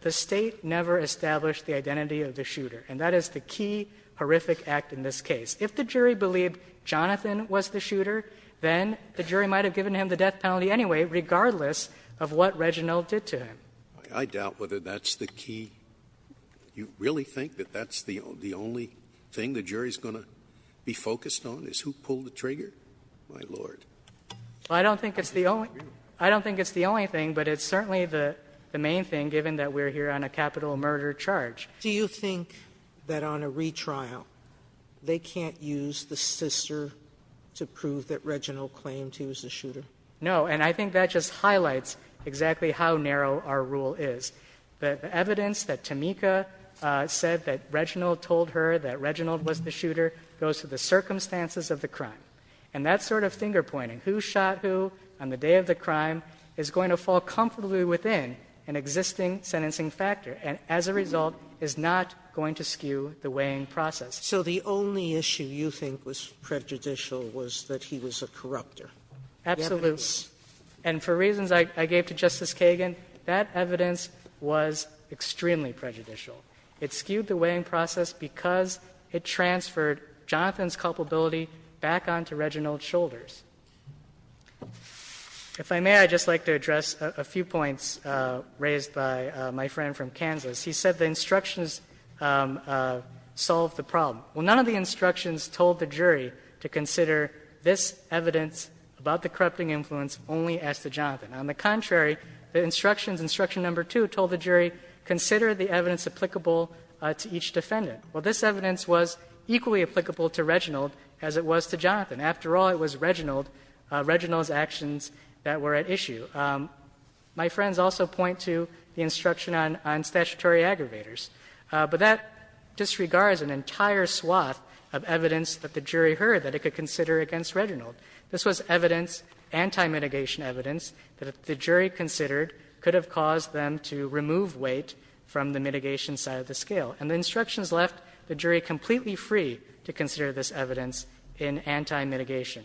the State never established the identity of the shooter, and that is the key horrific act in this case. If the jury believed Jonathan was the shooter, then the jury might have given him the death penalty anyway, regardless of what Reginald did to him. I doubt whether that's the key. You really think that that's the only thing the jury is going to be focused on, is who pulled the trigger? My Lord. I don't think it's the only thing, but it's certainly the main thing, given that we're here on a capital murder charge. Do you think that on a retrial, they can't use the sister to prove that Reginald claimed he was the shooter? No. And I think that just highlights exactly how narrow our rule is. The evidence that Tameka said that Reginald told her that Reginald was the shooter goes to the circumstances of the crime. And that sort of finger-pointing, who shot who on the day of the crime, is going to fall comfortably within an existing sentencing factor and, as a result, is not going to skew the weighing process. So the only issue you think was prejudicial was that he was a corruptor? Absolutely. And for reasons I gave to Justice Kagan, that evidence was extremely prejudicial. It skewed the weighing process because it transferred Jonathan's culpability back onto Reginald's shoulders. If I may, I'd just like to address a few points raised by my friend from Kansas. He said the instructions solved the problem. Well, none of the instructions told the jury to consider this evidence about the corrupting influence only as to Jonathan. On the contrary, the instructions, instruction number two, told the jury consider the evidence applicable to each defendant. Well, this evidence was equally applicable to Reginald as it was to Jonathan. After all, it was Reginald's actions that were at issue. My friends also point to the instruction on statutory aggravators. But that disregards an entire swath of evidence that the jury heard that it could consider against Reginald. This was evidence, anti-mitigation evidence, that the jury considered could have caused them to remove weight from the mitigation side of the scale. And the instructions left the jury completely free to consider this evidence in anti-mitigation.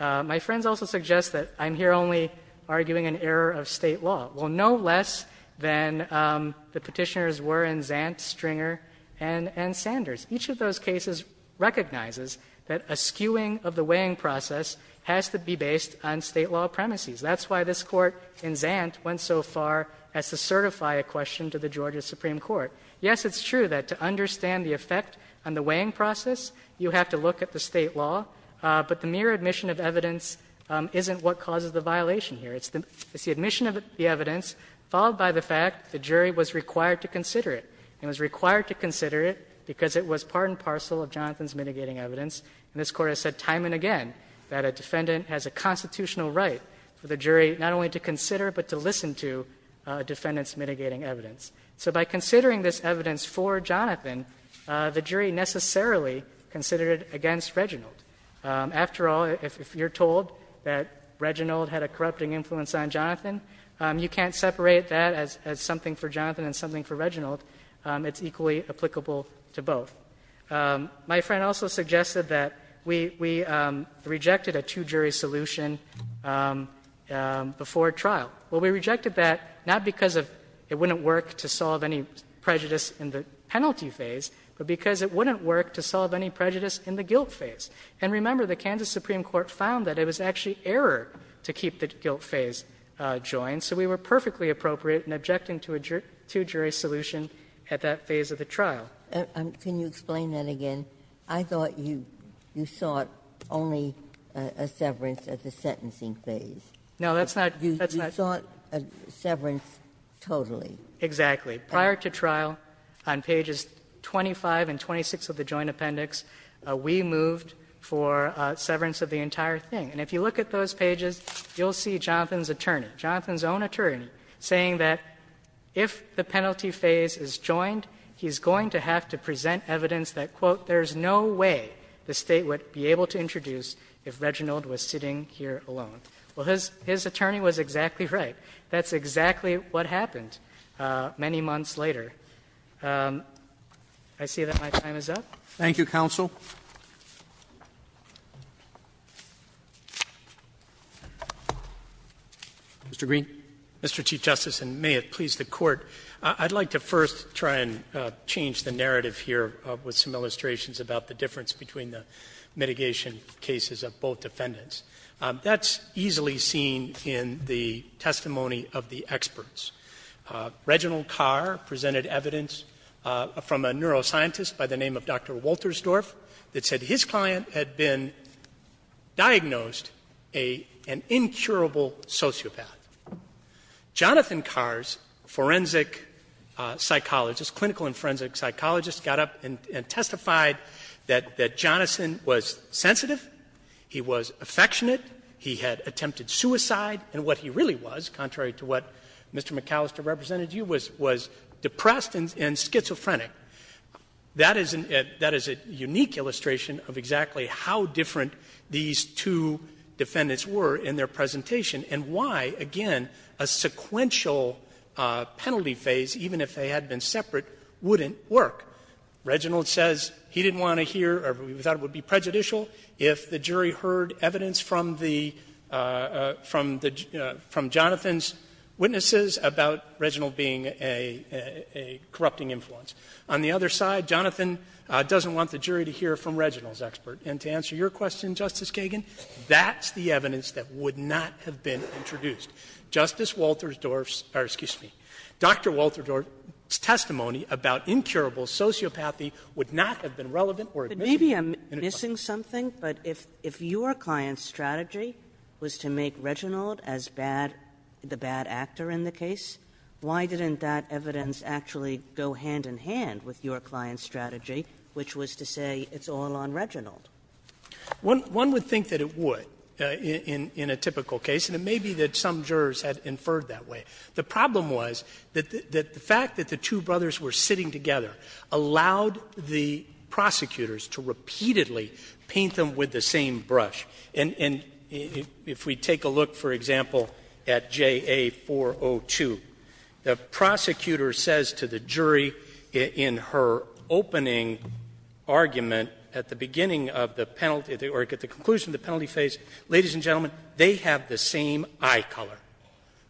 My friends also suggest that I'm here only arguing an error of State law. Well, no less than the Petitioners were in Zant, Stringer, and Sanders. Each of those cases recognizes that a skewing of the weighing process has to be based on State law premises. That's why this Court in Zant went so far as to certify a question to the Georgia Supreme Court. Yes, it's true that to understand the effect on the weighing process, you have to look at the State law, but the mere admission of evidence isn't what causes the violation here. It's the admission of the evidence, followed by the fact the jury was required to consider it. And it was required to consider it because it was part and parcel of Jonathan's mitigating evidence. And this Court has said time and again that a defendant has a constitutional right for the jury not only to consider, but to listen to a defendant's mitigating evidence. So by considering this evidence for Jonathan, the jury necessarily considered it against Reginald. After all, if you're told that Reginald had a corrupting influence on Jonathan, you can't separate that as something for Jonathan and something for Reginald. It's equally applicable to both. My friend also suggested that we rejected a two-jury solution before trial. Well, we rejected that not because it wouldn't work to solve any prejudice in the penalty phase, but because it wouldn't work to solve any prejudice in the guilt phase. And remember, the Kansas Supreme Court found that it was actually error to keep the guilt phase joined, so we were perfectly appropriate in objecting to a two-jury solution at that phase of the trial. Ginsburg. And can you explain that again? I thought you sought only a severance at the sentencing phase. No, that's not that's not. You sought a severance totally. Exactly. Prior to trial, on pages 25 and 26 of the Joint Appendix, we moved for severance of the entire thing. And if you look at those pages, you'll see Jonathan's attorney, Jonathan's own attorney, saying that if the penalty phase is joined, he's going to have to present evidence that, quote, there's no way the State would be able to introduce if Reginald was sitting here alone. Well, his attorney was exactly right. That's exactly what happened many months later. I see that my time is up. Thank you, counsel. Mr. Green. Mr. Chief Justice, and may it please the Court, I'd like to first try and change the narrative here with some illustrations about the difference between the mitigation cases of both defendants. That's easily seen in the testimony of the experts. Reginald Carr presented evidence from a neuroscientist by the name of Dr. Woltersdorf that said his client had been diagnosed an incurable sociopath. Jonathan Carr's forensic psychologist, clinical and forensic psychologist, got up and testified that Jonathan was sensitive, he was affectionate, he had attempted suicide, and what he really was, contrary to what Mr. McAllister represented to you, was depressed and schizophrenic. That is a unique illustration of exactly how different these two defendants were in their presentation and why, again, a sequential penalty phase, even if they had been separate, wouldn't work. Reginald says he didn't want to hear or thought it would be prejudicial if the jury heard evidence from the — from Jonathan's witnesses about Reginald being a corrupting influence. On the other side, Jonathan doesn't want the jury to hear from Reginald's expert. And to answer your question, Justice Kagan, that's the evidence that would not have been introduced. Justice Woltersdorf's — or, excuse me, Dr. Woltersdorf's testimony about incurable sociopathy would not have been relevant or admissible— Kaganan. But maybe I'm missing something, but if your client's strategy was to make Reginald as bad — the bad actor in the case, why didn't that evidence actually go hand in hand with your client's strategy, which was to say it's all on Reginald? One would think that it would in a typical case, and it may be that some jurors had inferred that way. The problem was that the fact that the two brothers were sitting together allowed the prosecutors to repeatedly paint them with the same brush. And if we take a look, for example, at JA-402, the prosecutor says to the jury, in her opening argument at the beginning of the penalty — or at the conclusion of the penalty phase, ladies and gentlemen, they have the same eye color.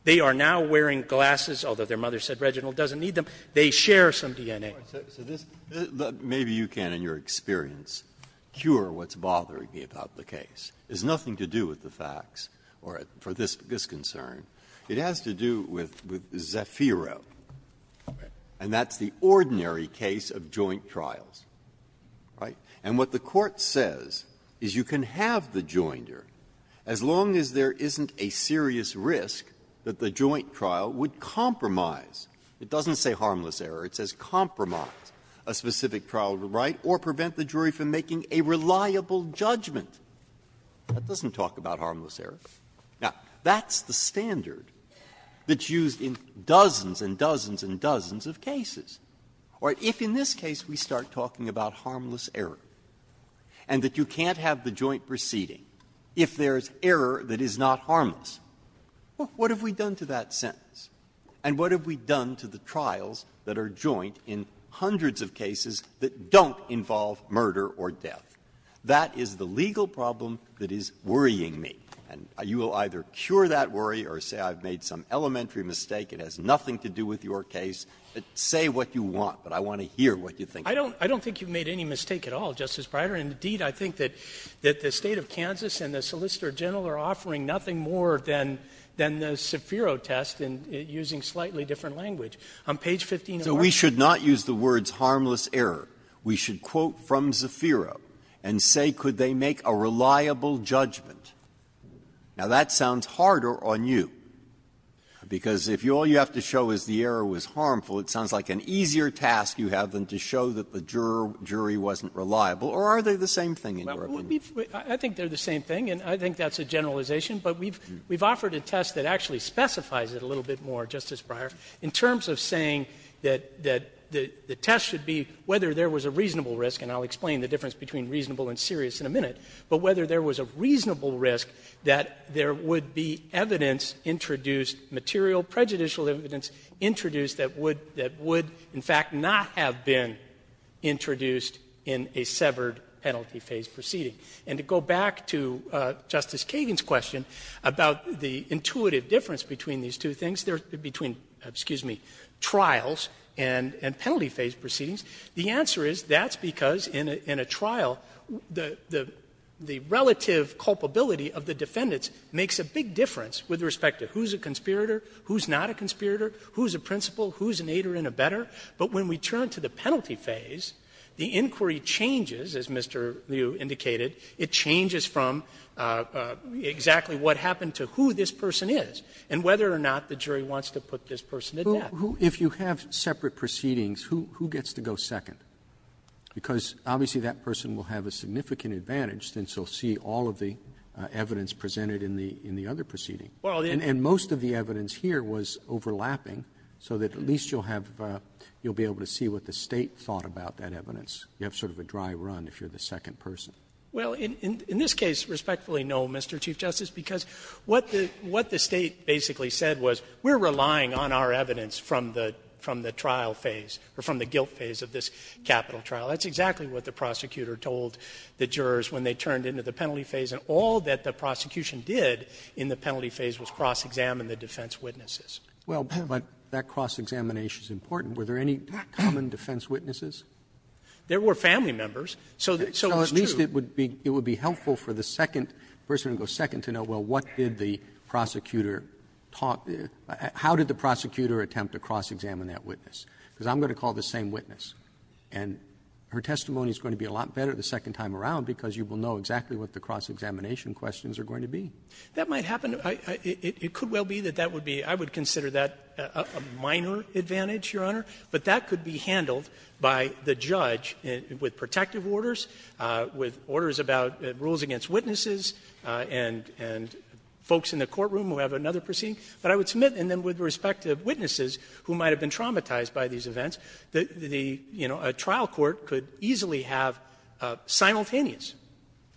They are now wearing glasses, although their mother said Reginald doesn't need them. They share some DNA. Breyer, so this — maybe you can, in your experience, cure what's bothering me about the case. It has nothing to do with the facts or for this concern. It has to do with Zafiro, and that's the ordinary case of joint trials. Right? And what the Court says is you can have the joinder as long as there isn't a serious risk that the joint trial would compromise. It doesn't say harmless error. It says compromise a specific trial right or prevent the jury from making a reliable judgment. That doesn't talk about harmless error. Now, that's the standard that's used in dozens and dozens and dozens of cases. Or if in this case we start talking about harmless error and that you can't have the joint proceeding if there is error that is not harmless, what have we done to that sentence? And what have we done to the trials that are joint in hundreds of cases that don't involve murder or death? That is the legal problem that is worrying me. And you will either cure that worry or say I've made some elementary mistake. It has nothing to do with your case. Say what you want, but I want to hear what you think. I don't think you've made any mistake at all, Justice Breyer. Indeed, I think that the State of Kansas and the Solicitor General are offering nothing more than the Zafiro test, using slightly different language. On page 15 of our law. So we should not use the words harmless error. We should quote from Zafiro and say could they make a reliable judgment. Now, that sounds harder on you, because if all you have to show is the error was harmful, it sounds like an easier task you have than to show that the jury wasn't reliable. Or are they the same thing in your opinion? I think they're the same thing, and I think that's a generalization. But we've offered a test that actually specifies it a little bit more, Justice Breyer, in terms of saying that the test should be whether there was a reasonable risk, and I'll explain the difference between reasonable and serious in a minute, but whether there was a reasonable risk that there would be evidence introduced, material, prejudicial evidence introduced that would, in fact, not have been introduced in a severed penalty phase proceeding. And to go back to Justice Kagan's question about the intuitive difference between these two things, between, excuse me, trials and penalty phase proceedings, the answer is that's because in a trial, the relative culpability of the defendants makes a big difference with respect to who's a conspirator, who's not a conspirator, who's a principal, who's an aider and a better. But when we turn to the penalty phase, the inquiry changes, as Mr. Liu indicated, it changes from exactly what happened to who this person is, and whether or not it was a conspirator or not, the jury wants to put this person to death. Roberts If you have separate proceedings, who gets to go second? Because obviously that person will have a significant advantage since he'll see all of the evidence presented in the other proceeding. And most of the evidence here was overlapping, so that at least you'll have the you'll be able to see what the State thought about that evidence. You have sort of a dry run if you're the second person. Well, in this case, respectfully, no, Mr. Chief Justice, because what the State basically said was we're relying on our evidence from the trial phase, or from the guilt phase of this capital trial. That's exactly what the prosecutor told the jurors when they turned into the penalty phase, and all that the prosecution did in the penalty phase was cross-examine the defense witnesses. But that cross-examination is important. Were there any common defense witnesses? There were family members, so it's true. Roberts So at least it would be helpful for the second person to go second to know, well, what did the prosecutor talk to you how did the prosecutor attempt to cross-examine that witness? Because I'm going to call the same witness. And her testimony is going to be a lot better the second time around, because you will know exactly what the cross-examination questions are going to be. That might happen. It could well be that that would be, I would consider that a minor advantage, Your Honor. But that could be handled by the judge with protective orders, with orders about rules against witnesses, and folks in the courtroom who have another proceeding. But I would submit, and then with respect to witnesses who might have been traumatized by these events, the, you know, a trial court could easily have simultaneous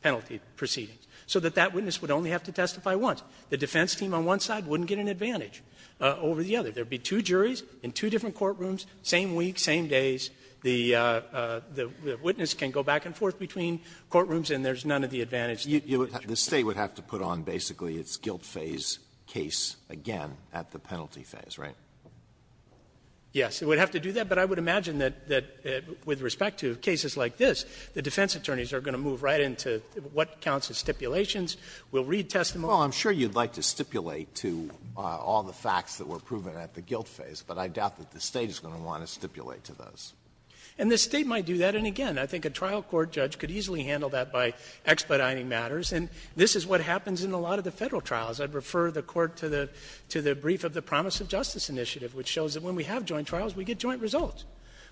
penalty proceedings, so that that witness would only have to testify once. The defense team on one side wouldn't get an advantage over the other. There would be two juries in two different courtrooms, same week, same days. The witness can go back and forth between courtrooms, and there's none of the advantage that the judge has. Alito, the State would have to put on basically its guilt phase case again at the penalty phase, right? Yes. It would have to do that. But I would imagine that with respect to cases like this, the defense attorneys are going to move right into what counts as stipulations. We'll read testimony. Well, I'm sure you'd like to stipulate to all the facts that were proven at the guilt phase, but I doubt that the State is going to want to stipulate to those. And the State might do that. And again, I think a trial court judge could easily handle that by expediting matters. And this is what happens in a lot of the Federal trials. I'd refer the Court to the brief of the Promise of Justice Initiative, which shows that when we have joint trials, we get joint results.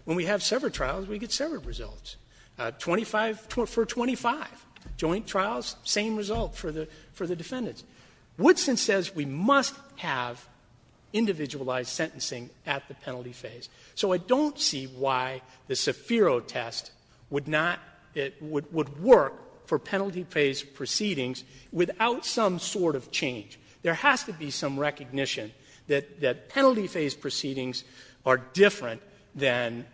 When we have severed trials, we get severed results. Twenty-five for twenty-five joint trials, same result for the defendants. Woodson says we must have individualized sentencing at the penalty phase. So I don't see why the Sefiro test would work for penalty phase proceedings without some sort of change. There has to be some recognition that penalty phase proceedings are different than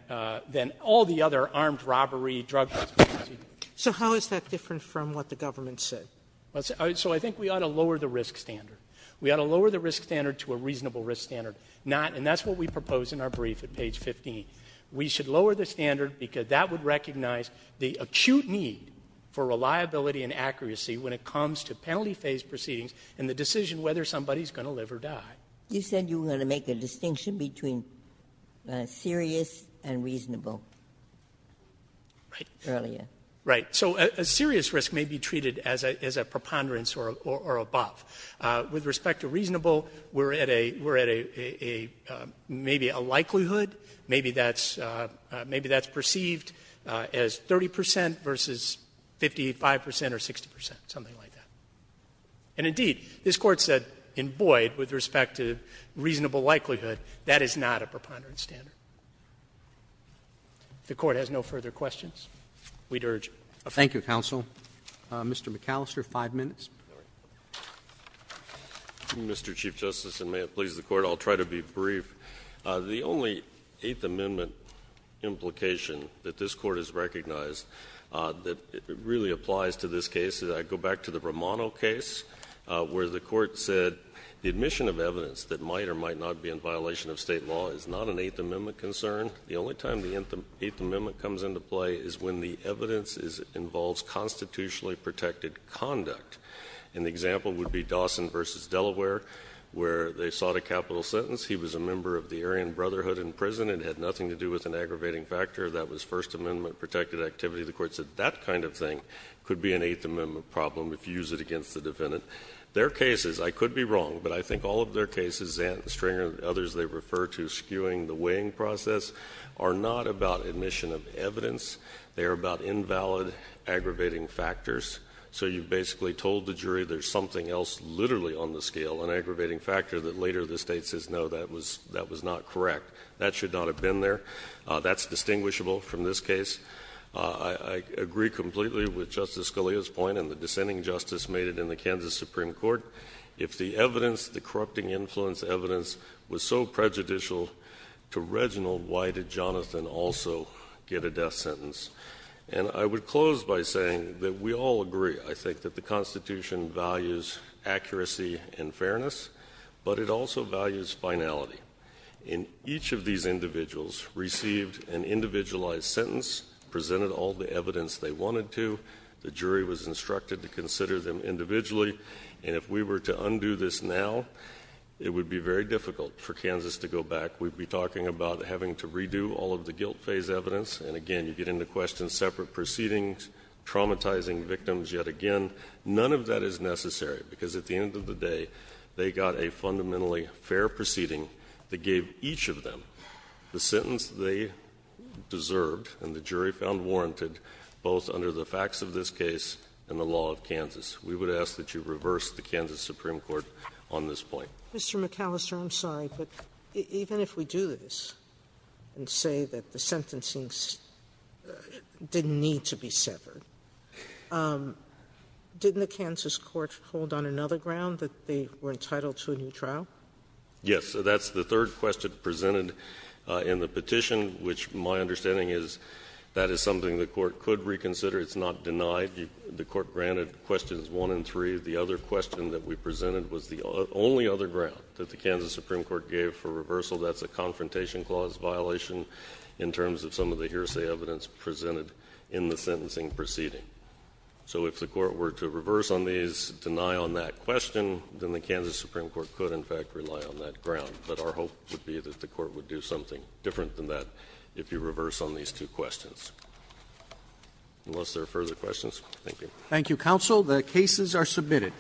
all the other armed robbery, drug-based proceedings. So how is that different from what the government said? So I think we ought to lower the risk standard. We ought to lower the risk standard to a reasonable risk standard. Not, and that's what we propose in our brief at page 15. We should lower the standard because that would recognize the acute need for reliability and accuracy when it comes to penalty phase proceedings and the decision whether somebody's going to live or die. You said you were going to make a distinction between serious and reasonable. Right. Earlier. Right. So a serious risk may be treated as a preponderance or above. With respect to reasonable, we're at a, maybe a likelihood, maybe that's perceived as 30% versus 55% or 60%, something like that. And indeed, this court said in Boyd, with respect to reasonable likelihood, that is not a preponderance standard. The court has no further questions. We'd urge- Thank you, counsel. Mr. McAllister, five minutes. Mr. Chief Justice, and may it please the court, I'll try to be brief. The only Eighth Amendment implication that this court has recognized that really applies to this case, I go back to the Romano case, where the court said, the admission of evidence that might or might not be in violation of state law is not an Eighth Amendment concern. The only time the Eighth Amendment comes into play is when the evidence involves constitutionally protected conduct. An example would be Dawson versus Delaware, where they sought a capital sentence. He was a member of the Aryan Brotherhood in prison. It had nothing to do with an aggravating factor. That was First Amendment protected activity. The court said that kind of thing could be an Eighth Amendment problem if you use it against the defendant. Their cases, I could be wrong, but I think all of their cases, and Stringer and others they refer to as skewing the weighing process, are not about admission of evidence, they are about invalid aggravating factors. So you basically told the jury there's something else literally on the scale, an aggravating factor that later the state says no, that was not correct. That should not have been there. That's distinguishable from this case. I agree completely with Justice Scalia's point, and the dissenting justice made it in the Kansas Supreme Court. If the evidence, the corrupting influence evidence, was so prejudicial to Reginald, why did Jonathan also get a death sentence? And I would close by saying that we all agree, I think, that the Constitution values accuracy and fairness, but it also values finality. And each of these individuals received an individualized sentence, presented all the evidence they wanted to. The jury was instructed to consider them individually, and if we were to undo this now, it would be very difficult for Kansas to go back. We'd be talking about having to redo all of the guilt phase evidence, and again, you get into question separate proceedings, traumatizing victims. Yet again, none of that is necessary, because at the end of the day, they got a fundamentally fair proceeding that gave each of them the sentence they deserved, and the jury found warranted, both under the facts of this case and the law of Kansas. We would ask that you reverse the Kansas Supreme Court on this point. Mr. McAllister, I'm sorry, but even if we do this and say that the sentencing didn't need to be severed, didn't the Kansas court hold on another ground that they were entitled to a new trial? Yes, that's the third question presented in the petition, which my understanding is that is something the court could reconsider. It's not denied. The court granted questions one and three. The other question that we presented was the only other ground that the Kansas Supreme Court gave for reversal. That's a confrontation clause violation in terms of some of the hearsay evidence presented in the sentencing proceeding. So if the court were to reverse on these, deny on that question, then the Kansas Supreme Court could, in fact, rely on that ground. But our hope would be that the court would do something different than that if you reverse on these two questions. Unless there are further questions, thank you. Thank you, counsel. The cases are submitted.